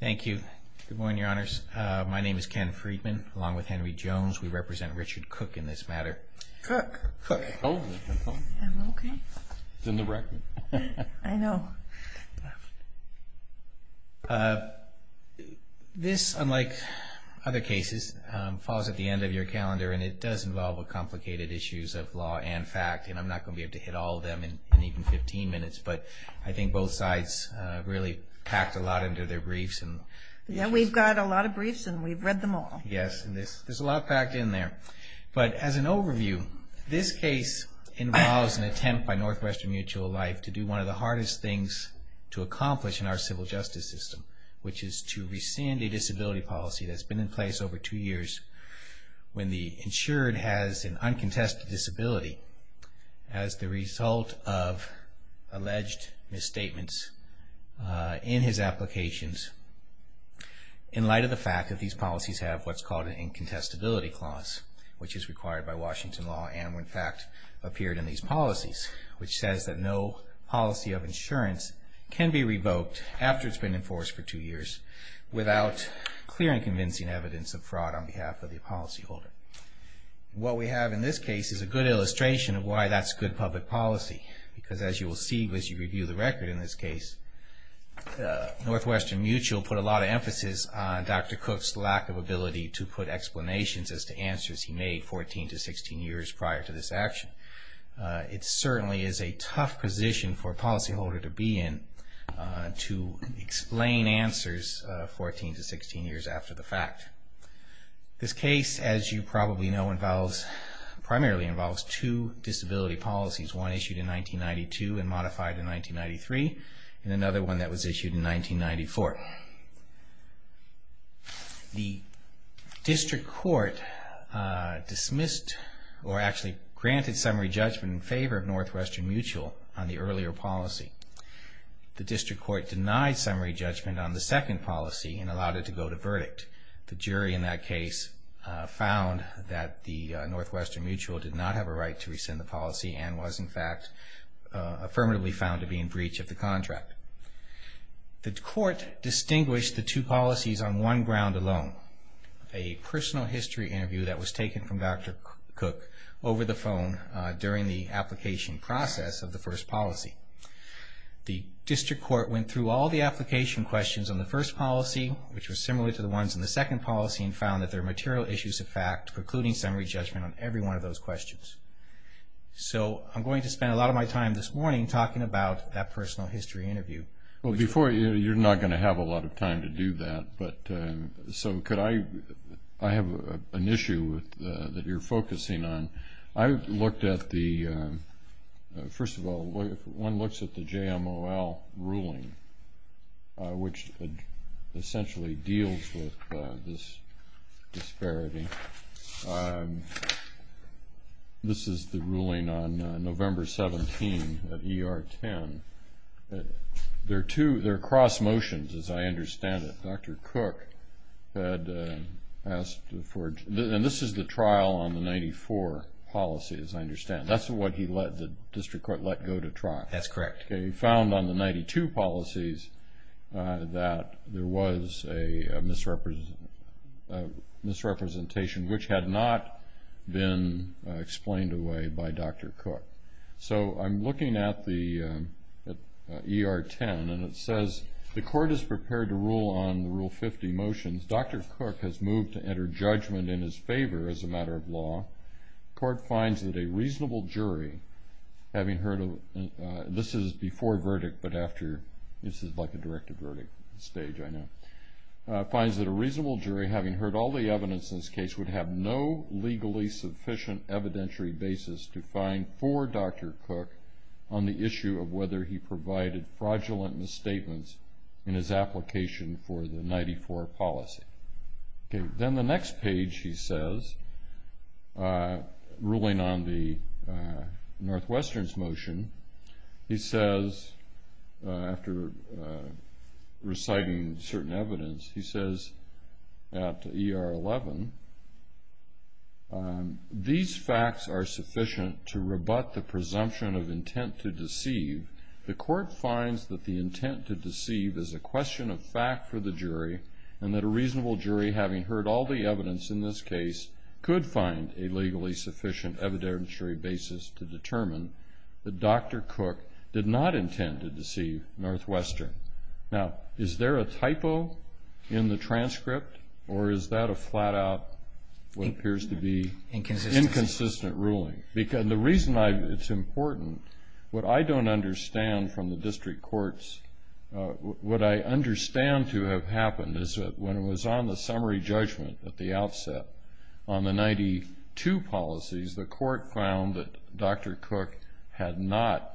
Thank you. Good morning, Your Honors. My name is Ken Friedman, along with Henry Jones. We represent Richard Koch in this matter. Koch. Koch. Oh. I'm okay. It's in the record. I know. This, unlike other cases, falls at the end of your calendar, and it does involve complicated issues of law and fact, and I'm not going to be able to hit all of them in even 15 minutes, but I think both sides really packed a lot into their briefs. Yeah, we've got a lot of briefs, and we've read them all. Yes, and there's a lot packed in there. But as an overview, this case involves an attempt by Northwestern Mutual Life to do one of the hardest things to accomplish in our civil justice system, which is to rescind a disability policy that's been in place over two years when the insured has an uncontested disability as the result of alleged misstatements in his applications in light of the fact that these policies have what's called an incontestability clause, which is required by Washington law, and when fact appeared in these policies, which says that no policy of insurance can be revoked after it's been enforced for two years without clear and convincing evidence of fraud on behalf of the policyholder. What we have in this case is a good illustration of why that's good public policy, because as you will see as you review the record in this case, Northwestern Mutual put a lot of emphasis on Dr. Cook's lack of ability to put explanations as to answers he made 14 to 16 years prior to this action. It certainly is a tough position for a policyholder to be in to explain answers 14 to 16 years after the fact. This case, as you probably know, primarily involves two disability policies, one issued in 1992 and modified in 1993, and another one that was issued in 1994. The district court dismissed or actually granted summary judgment in favor of Northwestern Mutual on the earlier policy. The district court denied summary judgment on the second policy and allowed it to go to verdict. The jury in that case found that the Northwestern Mutual did not have a right to rescind the policy and was in fact affirmatively found to be in breach of the contract. The court distinguished the two policies on one ground alone, a personal history interview that was taken from Dr. Cook over the phone during the application process of the first policy. The district court went through all the application questions on the first policy, which was similar to the ones in the second policy, and found that there were material issues of fact precluding summary judgment on every one of those questions. So I'm going to spend a lot of my time this morning talking about that personal history interview. Well, before you, you're not going to have a lot of time to do that, but so could I, I have an issue that you're focusing on. I looked at the, first of all, one looks at the JMOL ruling, which essentially deals with this disparity. This is the ruling on November 17 at ER 10. There are cross motions, as I understand it. Dr. Cook had asked for, and this is the trial on the 94 policy, as I understand. That's what the district court let go to trial. That's correct. He found on the 92 policies that there was a misrepresentation, which had not been explained away by Dr. Cook. So I'm looking at the ER 10, and it says the court is prepared to rule on the Rule 50 motions. Dr. Cook has moved to enter judgment in his favor as a matter of law. The court finds that a reasonable jury, having heard of, this is before verdict, but after. This is like a directive verdict stage, I know. Finds that a reasonable jury, having heard all the evidence in this case, would have no legally sufficient evidentiary basis to find for Dr. Cook on the issue of whether he provided fraudulent misstatements in his application for the 94 policy. Then the next page he says, ruling on the Northwestern's motion, he says, after reciting certain evidence, he says at ER 11, these facts are sufficient to rebut the presumption of intent to deceive. The court finds that the intent to deceive is a question of fact for the jury, and that a reasonable jury, having heard all the evidence in this case, could find a legally sufficient evidentiary basis to determine that Dr. Cook did not intend to deceive Northwestern. Now, is there a typo in the transcript, or is that a flat-out what appears to be inconsistent ruling? The reason it's important, what I don't understand from the district courts, what I understand to have happened is that when it was on the summary judgment at the outset, on the 92 policies, the court found that Dr. Cook had not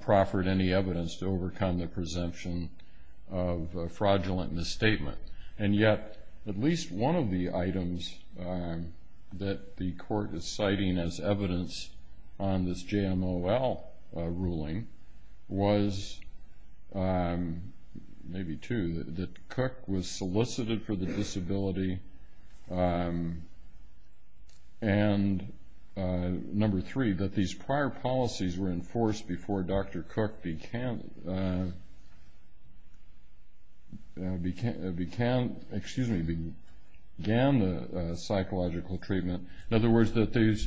proffered any evidence to overcome the presumption of a fraudulent misstatement. And yet, at least one of the items that the court is citing as evidence on this JMOL ruling was, maybe two, that Cook was solicited for the disability, and number three, that these prior policies were enforced before Dr. Cook began the psychological treatment. In other words, that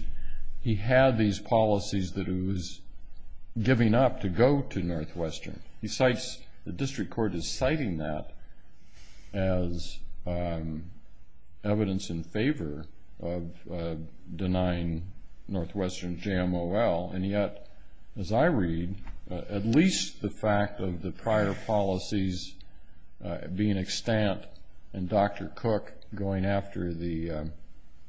he had these policies that he was giving up to go to Northwestern. The district court is citing that as evidence in favor of denying Northwestern JMOL, and yet, as I read, at least the fact of the prior policies being extant and Dr. Cook going after the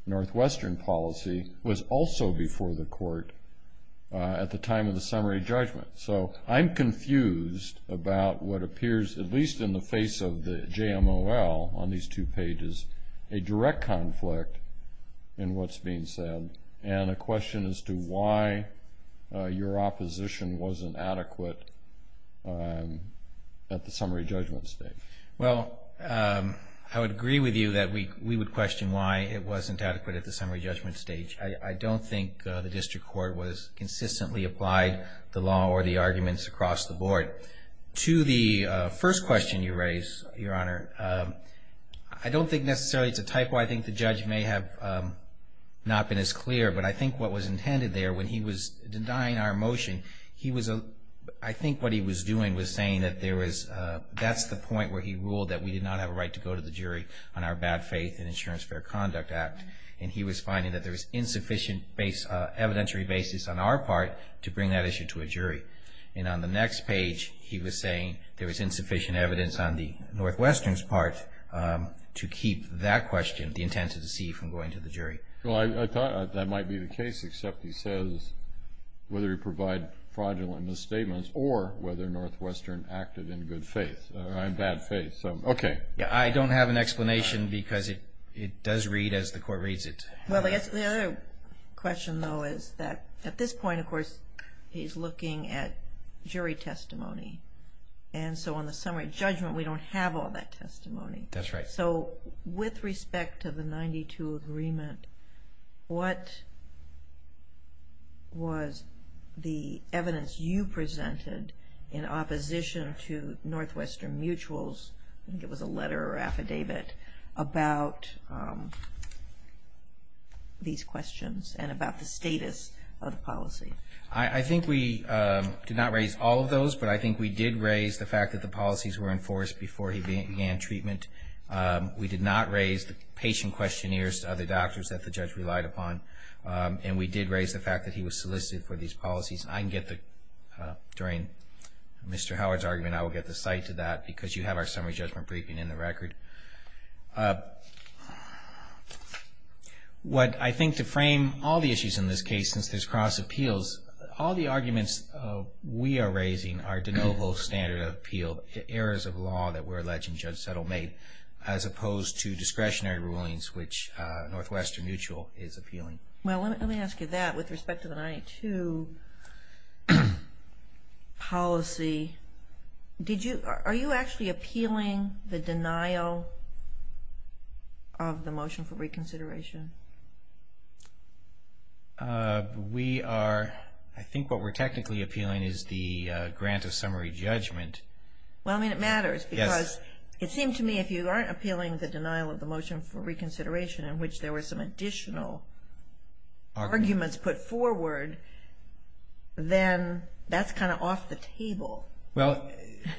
Northwestern policy was also before the court at the time of the summary judgment. So I'm confused about what appears, at least in the face of the JMOL on these two pages, a direct conflict in what's being said, and a question as to why your opposition wasn't adequate at the summary judgment stage. Well, I would agree with you that we would question why it wasn't adequate at the summary judgment stage. I don't think the district court was consistently applied the law or the arguments across the board. To the first question you raised, Your Honor, I don't think necessarily it's a typo. I think the judge may have not been as clear, but I think what was intended there when he was denying our motion, I think what he was doing was saying that that's the point where he ruled that we did not have a right to go to the jury on our bad faith in Insurance Fair Conduct Act, and he was finding that there was insufficient evidentiary basis on our part to bring that issue to a jury. And on the next page, he was saying there was insufficient evidence on the Northwestern's part to keep that question, the intent to deceive, from going to the jury. Well, I thought that might be the case, except he says whether he provided fraudulent misstatements or whether Northwestern acted in good faith or in bad faith. So, okay. I don't have an explanation because it does read as the court reads it. Well, I guess the other question, though, is that at this point, of course, he's looking at jury testimony. And so on the summary judgment, we don't have all that testimony. That's right. So, with respect to the 92 agreement, what was the evidence you presented in opposition to Northwestern Mutual's, I think it was a letter or affidavit, about these questions and about the status of the policy? I think we did not raise all of those, but I think we did raise the fact that the policies were enforced before he began treatment. We did not raise the patient questionnaires to other doctors that the judge relied upon. And we did raise the fact that he was solicited for these policies. I can get the, during Mr. Howard's argument, I will get the cite to that because you have our summary judgment briefing in the record. What I think to frame all the issues in this case, since there's cross appeals, all the arguments we are raising are de novo standard of appeal, errors of law that were alleged in Judge Settlemate, as opposed to discretionary rulings, which Northwestern Mutual is appealing. Well, let me ask you that. With respect to the 92 policy, are you actually appealing the denial of the motion for reconsideration? We are, I think what we're technically appealing is the grant of summary judgment. Well, I mean, it matters because it seemed to me if you aren't appealing the denial of the motion for reconsideration, in which there were some additional arguments put forward, then that's kind of off the table. Well,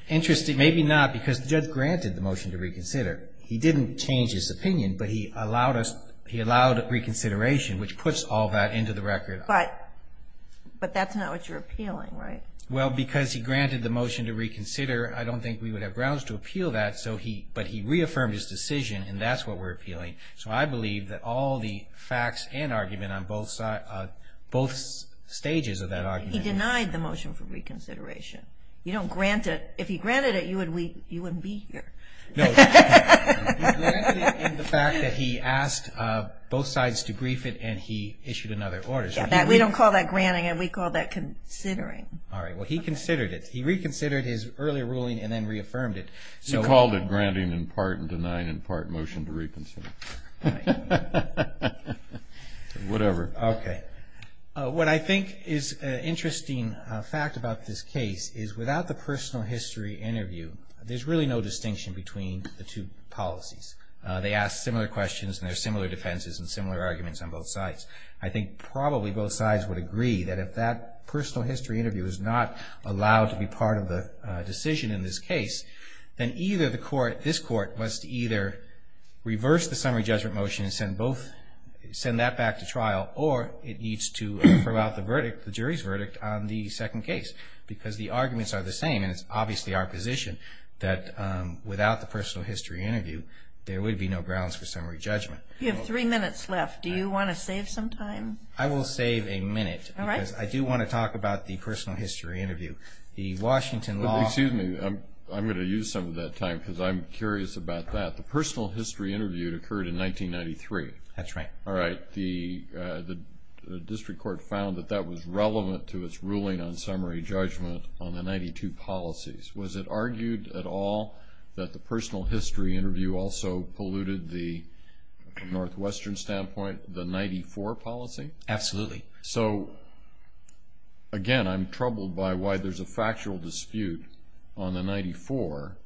interesting, maybe not, because the judge granted the motion to reconsider. He didn't change his opinion, but he allowed us, he allowed reconsideration, which puts all that into the record. But that's not what you're appealing, right? Well, because he granted the motion to reconsider, I don't think we would have grounds to appeal that, but he reaffirmed his decision, and that's what we're appealing. So I believe that all the facts and argument on both sides, both stages of that argument. He denied the motion for reconsideration. You don't grant it. If he granted it, you wouldn't be here. No. He granted it in the fact that he asked both sides to brief it, and he issued another order. We don't call that granting. We call that considering. All right. Well, he considered it. He reconsidered his earlier ruling and then reaffirmed it. He called it granting in part and denying in part motion to reconsider. Whatever. Okay. What I think is an interesting fact about this case is without the personal history interview, there's really no distinction between the two policies. They ask similar questions, and there are similar defenses and similar arguments on both sides. I think probably both sides would agree that if that personal history interview is not allowed to be part of the decision in this case, then either this court must either reverse the summary judgment motion and send that back to trial, or it needs to throw out the verdict, the jury's verdict, on the second case, because the arguments are the same, and it's obviously our position that without the personal history interview, there would be no grounds for summary judgment. You have three minutes left. Do you want to save some time? I will save a minute. All right. Because I do want to talk about the personal history interview. The Washington law. Excuse me. I'm going to use some of that time because I'm curious about that. The personal history interview occurred in 1993. That's right. All right. The district court found that that was relevant to its ruling on summary judgment on the 92 policies. Was it argued at all that the personal history interview also polluted the Northwestern standpoint, the 94 policy? Absolutely. So, again, I'm troubled by why there's a factual dispute on the 94,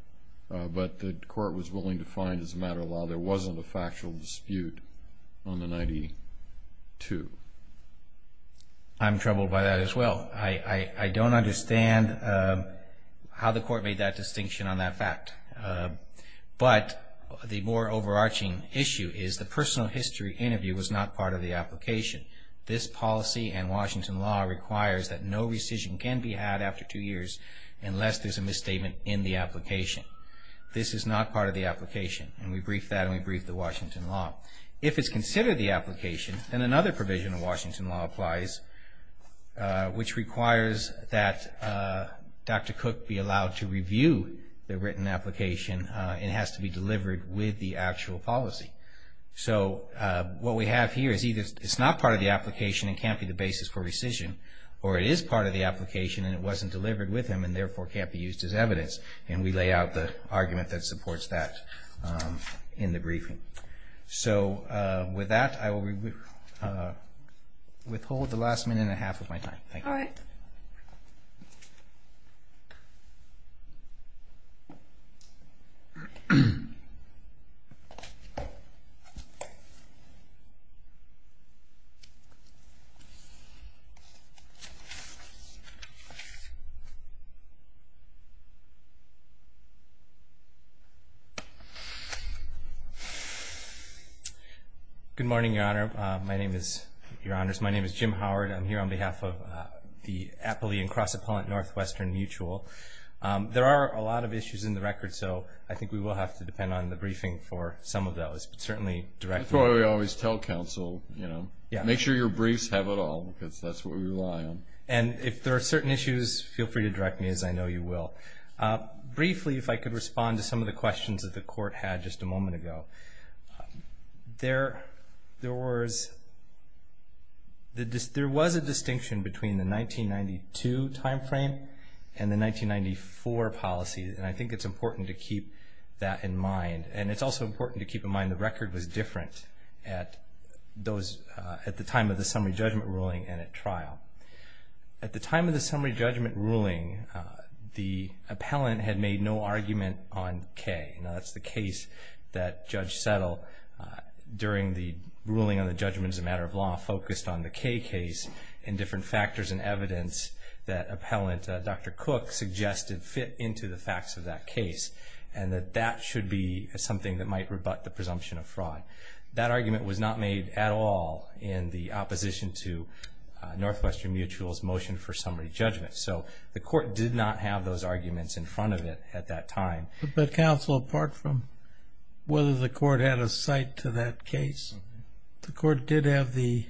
but the court was willing to find as a matter of law there wasn't a factual dispute on the 92. I'm troubled by that as well. I don't understand how the court made that distinction on that fact. But the more overarching issue is the personal history interview was not part of the application. This policy and Washington law requires that no rescission can be had after two years unless there's a misstatement in the application. This is not part of the application. And we briefed that and we briefed the Washington law. If it's considered the application, then another provision of Washington law applies, which requires that Dr. Cook be allowed to review the written application. It has to be delivered with the actual policy. So what we have here is either it's not part of the application and can't be the basis for rescission or it is part of the application and it wasn't delivered with him and therefore can't be used as evidence. And we lay out the argument that supports that in the briefing. So with that, I will withhold the last minute and a half of my time. Thank you. All right. Thank you. Good morning, Your Honor. My name is Jim Howard. I'm here on behalf of the Appalachian Cross Appellant Northwestern Mutual. There are a lot of issues in the record, so I think we will have to depend on the briefing for some of those, but certainly directly. That's what we always tell counsel, you know. Make sure your briefs have it all because that's what we rely on. And if there are certain issues, feel free to direct me as I know you will. Briefly, if I could respond to some of the questions that the Court had just a moment ago. There was a distinction between the 1992 timeframe and the 1994 policy, and I think it's important to keep that in mind. And it's also important to keep in mind the record was different at the time of the summary judgment ruling and at trial. At the time of the summary judgment ruling, the appellant had made no argument on K. Now, that's the case that Judge Settle, during the ruling on the judgment as a matter of law, focused on the K case in different factors and evidence that appellant Dr. Cook suggested fit into the facts of that case and that that should be something that might rebut the presumption of fraud. That argument was not made at all in the opposition to Northwestern Mutual's motion for summary judgment. So the Court did not have those arguments in front of it at that time. But counsel, apart from whether the Court had a site to that case, the Court did have the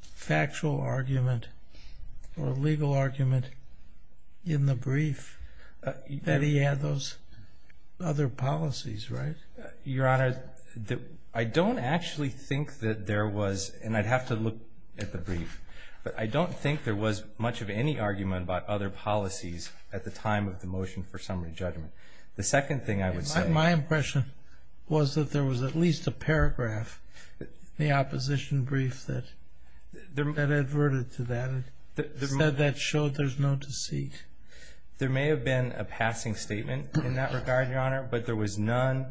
factual argument or legal argument in the brief that he had those other policies, right? Your Honor, I don't actually think that there was, and I'd have to look at the brief, but I don't think there was much of any argument about other policies at the time of the motion for summary judgment. The second thing I would say... My impression was that there was at least a paragraph in the opposition brief that adverted to that, said that showed there's no deceit. There may have been a passing statement in that regard, Your Honor, but there was none.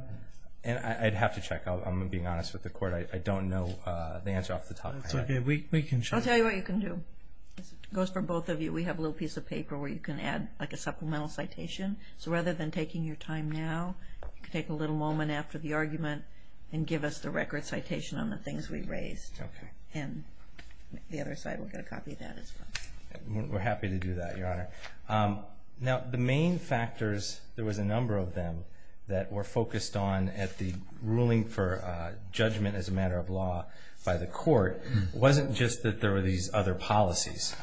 And I'd have to check. I'm being honest with the Court. I don't know the answer off the top of my head. That's okay. We can check. I'll tell you what you can do. It goes for both of you. We have a little piece of paper where you can add like a supplemental citation. So rather than taking your time now, you can take a little moment after the argument and give us the record citation on the things we've raised. Okay. And the other side will get a copy of that as well. We're happy to do that, Your Honor. Now the main factors, there was a number of them that were focused on at the ruling for judgment as a matter of law by the Court, wasn't just that there were these other policies.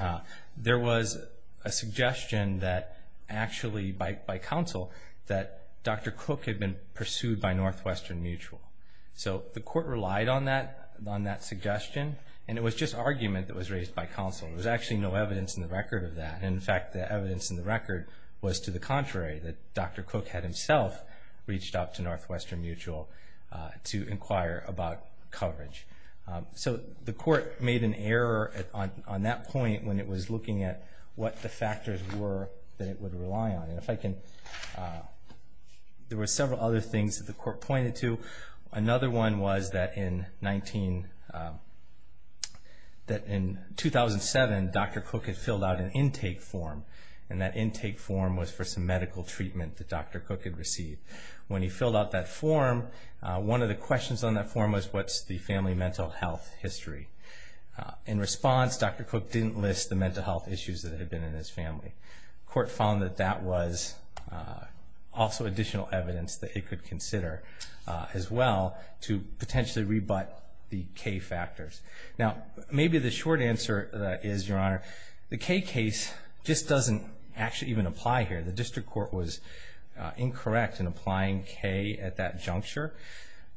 There was a suggestion that actually by counsel that Dr. Cook had been pursued by Northwestern Mutual. So the Court relied on that suggestion, and it was just argument that was raised by counsel. There was actually no evidence in the record of that. In fact, the evidence in the record was to the contrary, that Dr. Cook had himself reached out to Northwestern Mutual to inquire about coverage. So the Court made an error on that point when it was looking at what the factors were that it would rely on. There were several other things that the Court pointed to. Another one was that in 2007, Dr. Cook had filled out an intake form, and that intake form was for some medical treatment that Dr. Cook had received. When he filled out that form, one of the questions on that form was, what's the family mental health history? In response, Dr. Cook didn't list the mental health issues that had been in his family. The Court found that that was also additional evidence that it could consider as well to potentially rebut the K factors. Now maybe the short answer is, Your Honor, the K case just doesn't actually even apply here. The District Court was incorrect in applying K at that juncture.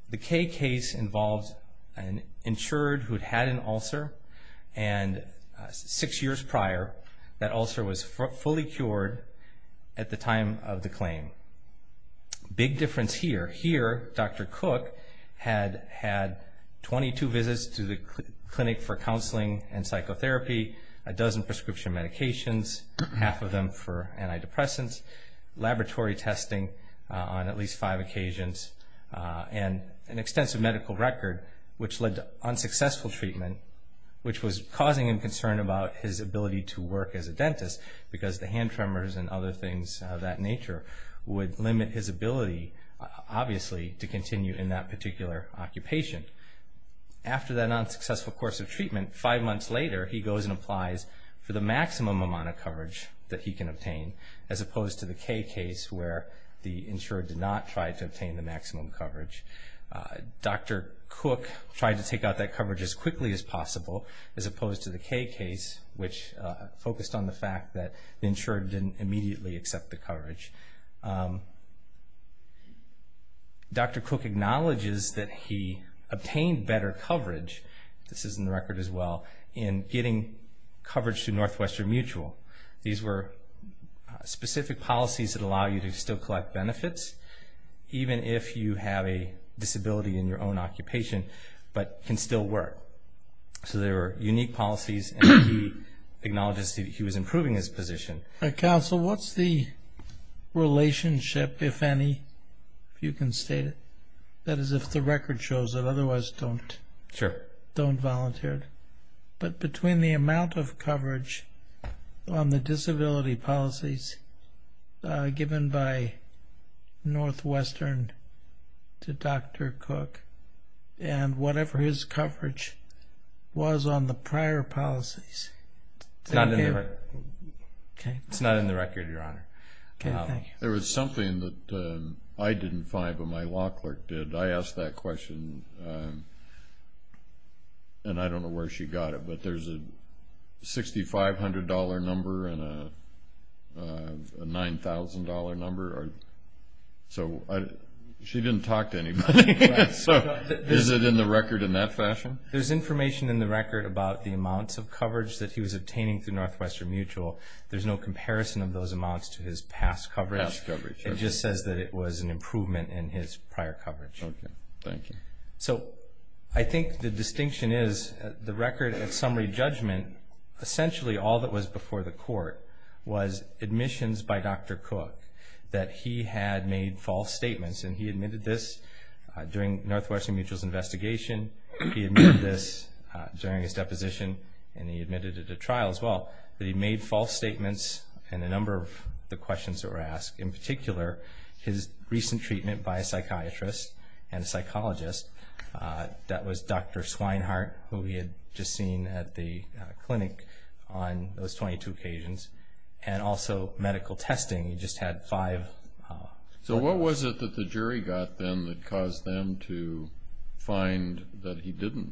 The K case involved an insured who'd had an ulcer, and six years prior that ulcer was fully cured at the time of the claim. Big difference here. Here, Dr. Cook had had 22 visits to the Clinic for Counseling and Psychotherapy, a dozen prescription medications, half of them for antidepressants, laboratory testing on at least five occasions, and an extensive medical record which led to unsuccessful treatment, which was causing him concern about his ability to work as a dentist because the hand tremors and other things of that nature would limit his ability, obviously, to continue in that particular occupation. After that unsuccessful course of treatment, five months later, he goes and applies for the maximum amount of coverage that he can obtain, as opposed to the K case where the insured did not try to obtain the maximum coverage. Dr. Cook tried to take out that coverage as quickly as possible, as opposed to the K case, which focused on the fact that the insured didn't immediately accept the coverage. Dr. Cook acknowledges that he obtained better coverage, this is in the record as well, in getting coverage through Northwestern Mutual. These were specific policies that allow you to still collect benefits, even if you have a disability in your own occupation, but can still work. So they were unique policies, and he acknowledges that he was improving his position. Counsel, what's the relationship, if any, if you can state it, that is if the record shows it, otherwise don't volunteer, but between the amount of coverage on the disability policies given by Northwestern to Dr. Cook and whatever his coverage was on the prior policies? It's not in the record, Your Honor. There was something that I didn't find, but my law clerk did. I asked that question, and I don't know where she got it, but there's a $6,500 number and a $9,000 number, so she didn't talk to anybody. Is it in the record in that fashion? There's information in the record about the amounts of coverage that he was obtaining through Northwestern Mutual. There's no comparison of those amounts to his past coverage. It just says that it was an improvement in his prior coverage. Okay, thank you. So I think the distinction is the record at summary judgment, essentially all that was before the court was admissions by Dr. Cook that he had made false statements, and he admitted this during Northwestern Mutual's investigation. He admitted this during his deposition, and he admitted it at trial as well, that he made false statements in a number of the questions that were asked, in particular his recent treatment by a psychiatrist and a psychologist. That was Dr. Swinehart, who we had just seen at the clinic on those 22 occasions, and also medical testing. He just had five. So what was it that the jury got then that caused them to find that he didn't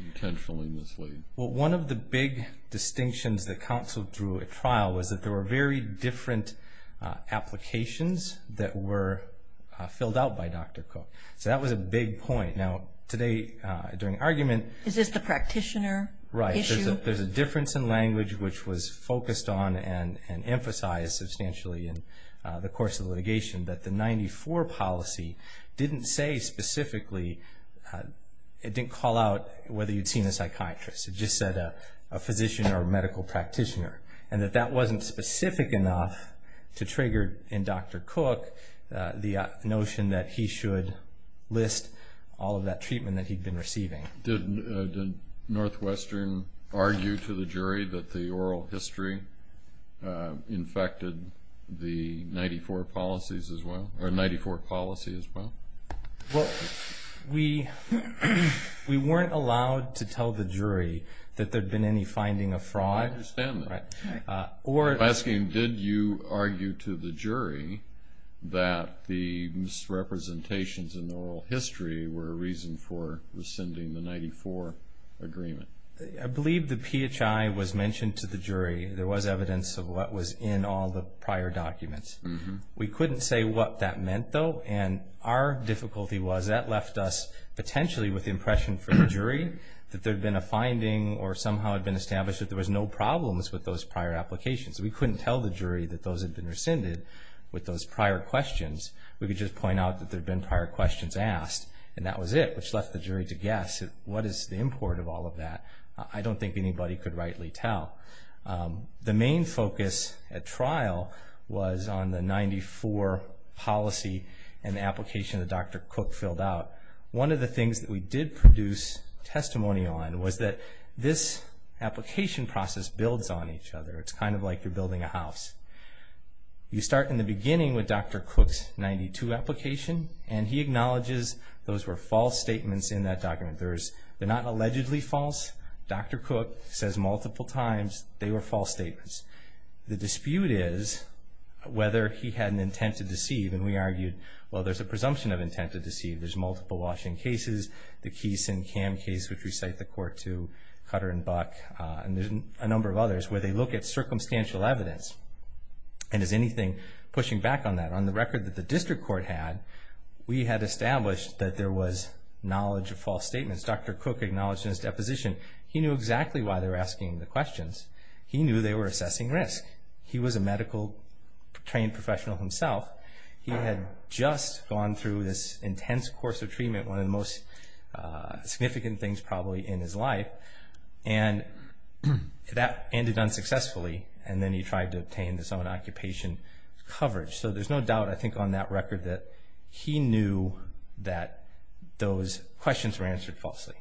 intentionally mislead? Well, one of the big distinctions that counsel drew at trial was that there were very different applications that were filled out by Dr. Cook. So that was a big point. Now, today, during argument— Is this the practitioner issue? Right, there's a difference in language which was focused on and emphasized substantially in the course of the litigation, that the 94 policy didn't say specifically— it didn't call out whether you'd seen a psychiatrist. It just said a physician or a medical practitioner, and that that wasn't specific enough to trigger in Dr. Cook the notion that he should list all of that treatment that he'd been receiving. Did Northwestern argue to the jury that the oral history infected the 94 policies as well? Well, we weren't allowed to tell the jury that there'd been any finding of fraud. I understand that. I'm asking, did you argue to the jury that the misrepresentations in the oral history were a reason for rescinding the 94 agreement? I believe the PHI was mentioned to the jury. There was evidence of what was in all the prior documents. We couldn't say what that meant, though, and our difficulty was that left us potentially with the impression for the jury that there'd been a finding or somehow had been established that there was no problems with those prior applications. We couldn't tell the jury that those had been rescinded with those prior questions. We could just point out that there'd been prior questions asked, and that was it, which left the jury to guess, what is the import of all of that? I don't think anybody could rightly tell. The main focus at trial was on the 94 policy and the application that Dr. Cook filled out. One of the things that we did produce testimony on was that this application process builds on each other. It's kind of like you're building a house. You start in the beginning with Dr. Cook's 92 application, and he acknowledges those were false statements in that document. They're not allegedly false. Dr. Cook says multiple times they were false statements. The dispute is whether he had an intent to deceive, and we argued, well, there's a presumption of intent to deceive. There's multiple Washington cases, the Keeson-Camm case, which we cite the court to, Cutter and Buck, and there's a number of others, where they look at circumstantial evidence, and is anything pushing back on that? On the record that the district court had, we had established that there was knowledge of false statements. Dr. Cook acknowledged in his deposition he knew exactly why they were asking the questions. He knew they were assessing risk. He was a medical trained professional himself. He had just gone through this intense course of treatment, one of the most significant things probably in his life, and that ended unsuccessfully, and then he tried to obtain his own occupation coverage. So there's no doubt, I think, on that record that he knew that those questions were answered falsely.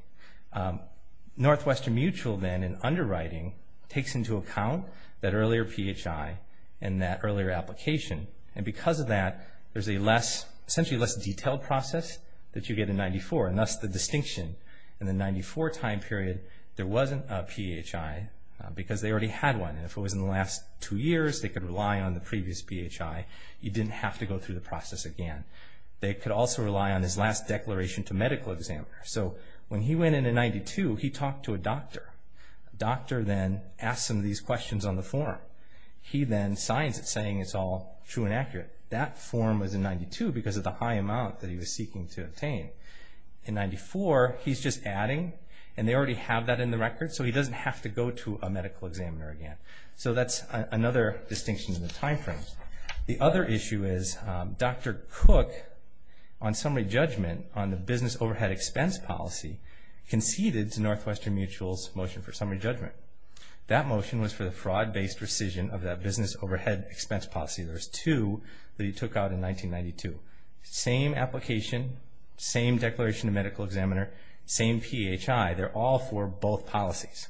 Northwestern Mutual then, in underwriting, takes into account that earlier PHI and that earlier application, and because of that there's a less, essentially less detailed process that you get in 94, and thus the distinction in the 94 time period, there wasn't a PHI because they already had one, and if it was in the last two years, they could rely on the previous PHI. You didn't have to go through the process again. They could also rely on his last declaration to medical examiners. So when he went into 92, he talked to a doctor. The doctor then asked him these questions on the form. He then signs it saying it's all true and accurate. That form was in 92 because of the high amount that he was seeking to obtain. In 94, he's just adding, and they already have that in the record, so he doesn't have to go to a medical examiner again. So that's another distinction in the time frame. The other issue is Dr. Cook, on summary judgment, on the business overhead expense policy, conceded to Northwestern Mutual's motion for summary judgment. That motion was for the fraud-based rescission of that business overhead expense policy. There's two that he took out in 1992. Same application, same declaration to medical examiner, same PHI. They're all for both policies.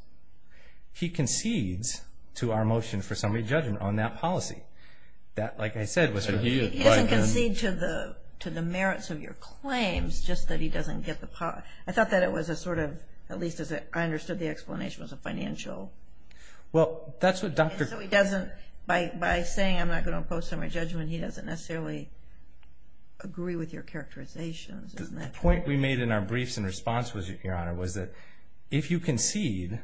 He concedes to our motion for summary judgment on that policy. That, like I said, was for... He doesn't concede to the merits of your claims, just that he doesn't get the policy. I thought that it was a sort of, at least as I understood the explanation, was a financial... Well, that's what Dr. Cook... Agree with your characterizations, isn't that correct? The point we made in our briefs in response, Your Honor, was that if you concede,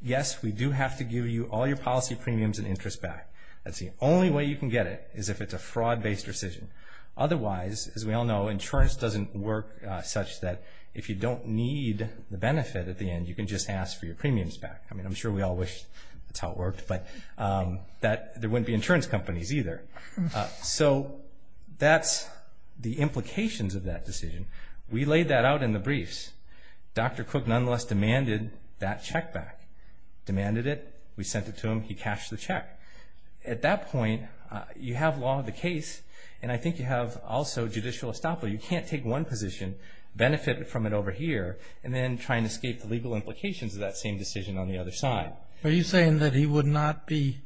yes, we do have to give you all your policy premiums and interest back. That's the only way you can get it, is if it's a fraud-based rescission. Otherwise, as we all know, insurance doesn't work such that if you don't need the benefit at the end, you can just ask for your premiums back. I mean, I'm sure we all wish that's how it worked, but there wouldn't be insurance companies either. So that's the implications of that decision. We laid that out in the briefs. Dr. Cook nonetheless demanded that check back. Demanded it. We sent it to him. He cashed the check. At that point, you have law of the case, and I think you have also judicial estoppel. You can't take one position, benefit from it over here, and then try and escape the legal implications of that same decision on the other side. Are you saying that he would not be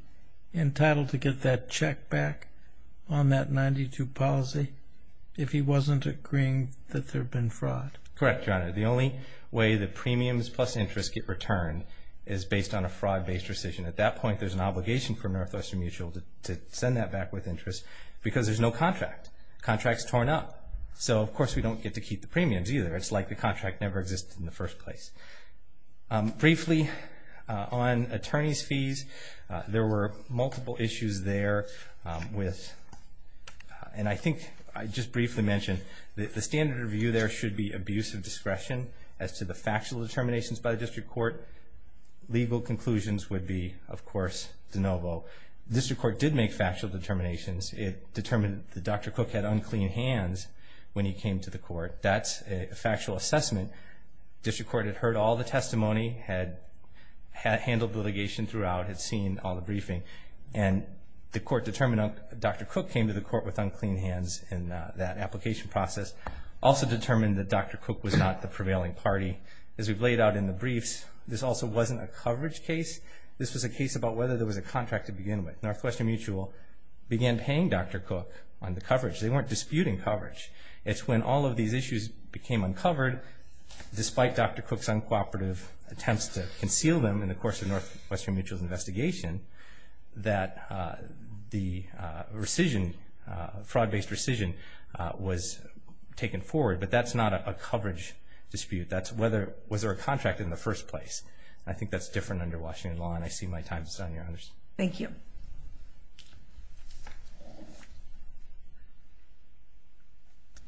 entitled to get that check back on that 92 policy if he wasn't agreeing that there had been fraud? Correct, Your Honor. The only way that premiums plus interest get returned is based on a fraud-based rescission. At that point, there's an obligation for Northwestern Mutual to send that back with interest because there's no contract. Contract's torn up. So, of course, we don't get to keep the premiums either. It's like the contract never existed in the first place. Briefly, on attorney's fees, there were multiple issues there with, and I think I just briefly mentioned that the standard of view there should be abuse of discretion as to the factual determinations by the district court. Legal conclusions would be, of course, de novo. The district court did make factual determinations. It determined that Dr. Cook had unclean hands when he came to the court. That's a factual assessment. District court had heard all the testimony, had handled litigation throughout, had seen all the briefing. And the court determined Dr. Cook came to the court with unclean hands in that application process. Also determined that Dr. Cook was not the prevailing party. As we've laid out in the briefs, this also wasn't a coverage case. This was a case about whether there was a contract to begin with. Northwestern Mutual began paying Dr. Cook on the coverage. They weren't disputing coverage. It's when all of these issues became uncovered, despite Dr. Cook's uncooperative attempts to conceal them in the course of Northwestern Mutual's investigation, that the fraud-based rescission was taken forward. But that's not a coverage dispute. That's whether was there a contract in the first place. I think that's different under Washington law, and I see my time is done, Your Honors. Thank you.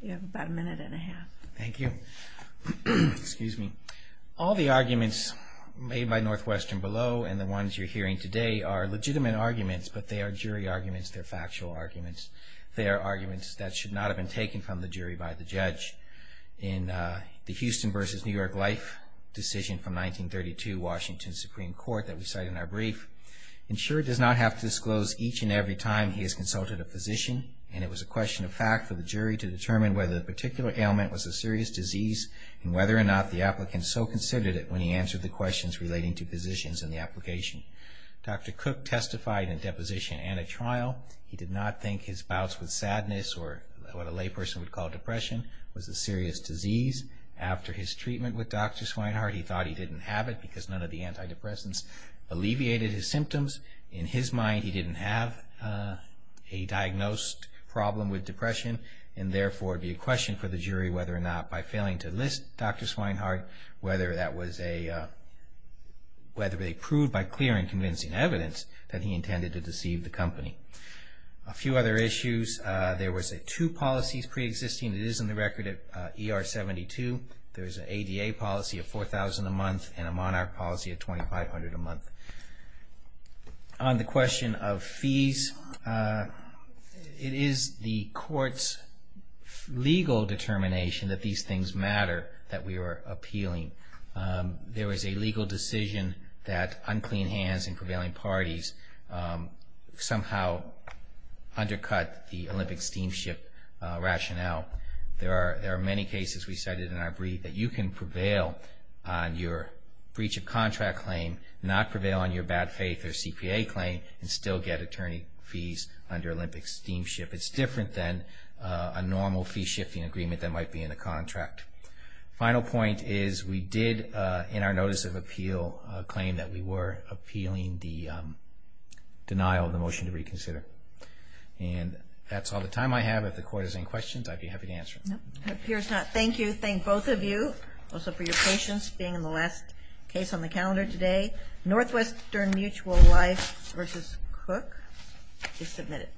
You have about a minute and a half. Thank you. All the arguments made by Northwestern Below and the ones you're hearing today are legitimate arguments, but they are jury arguments. They're factual arguments. They are arguments that should not have been taken from the jury by the judge. In the Houston v. New York Life decision from 1932 Washington Supreme Court that we cite in our brief, insured does not have to disclose each and every time he has consulted a physician, and it was a question of fact for the jury to determine whether the particular ailment was a serious disease and whether or not the applicant so considered it when he answered the questions relating to physicians in the application. Dr. Cook testified in a deposition and a trial. He did not think his bouts with sadness or what a lay person would call depression was a serious disease. After his treatment with Dr. Swinehart he thought he didn't have it because none of the antidepressants alleviated his symptoms. In his mind he didn't have a diagnosed problem with depression, and therefore it would be a question for the jury whether or not by failing to list Dr. Swinehart, whether they proved by clear and convincing evidence that he intended to deceive the company. A few other issues. There were two policies preexisting. It is in the record at ER 72. There is an ADA policy of $4,000 a month and a Monarch policy of $2,500 a month. On the question of fees, it is the court's legal determination that these things matter, that we are appealing. There is a legal decision that unclean hands and prevailing parties somehow undercut the Olympic steamship rationale. There are many cases we cited in our brief that you can prevail on your breach of contract claim, not prevail on your bad faith or CPA claim, and still get attorney fees under Olympic steamship. It is different than a normal fee-shifting agreement that might be in a contract. The final point is we did in our notice of appeal claim that we were appealing the denial of the motion to reconsider. That is all the time I have. If the court has any questions, I would be happy to answer them. It appears not. Thank you. Thank both of you also for your patience being in the last case on the calendar today. Northwestern Mutual Life v. Cook is submitted.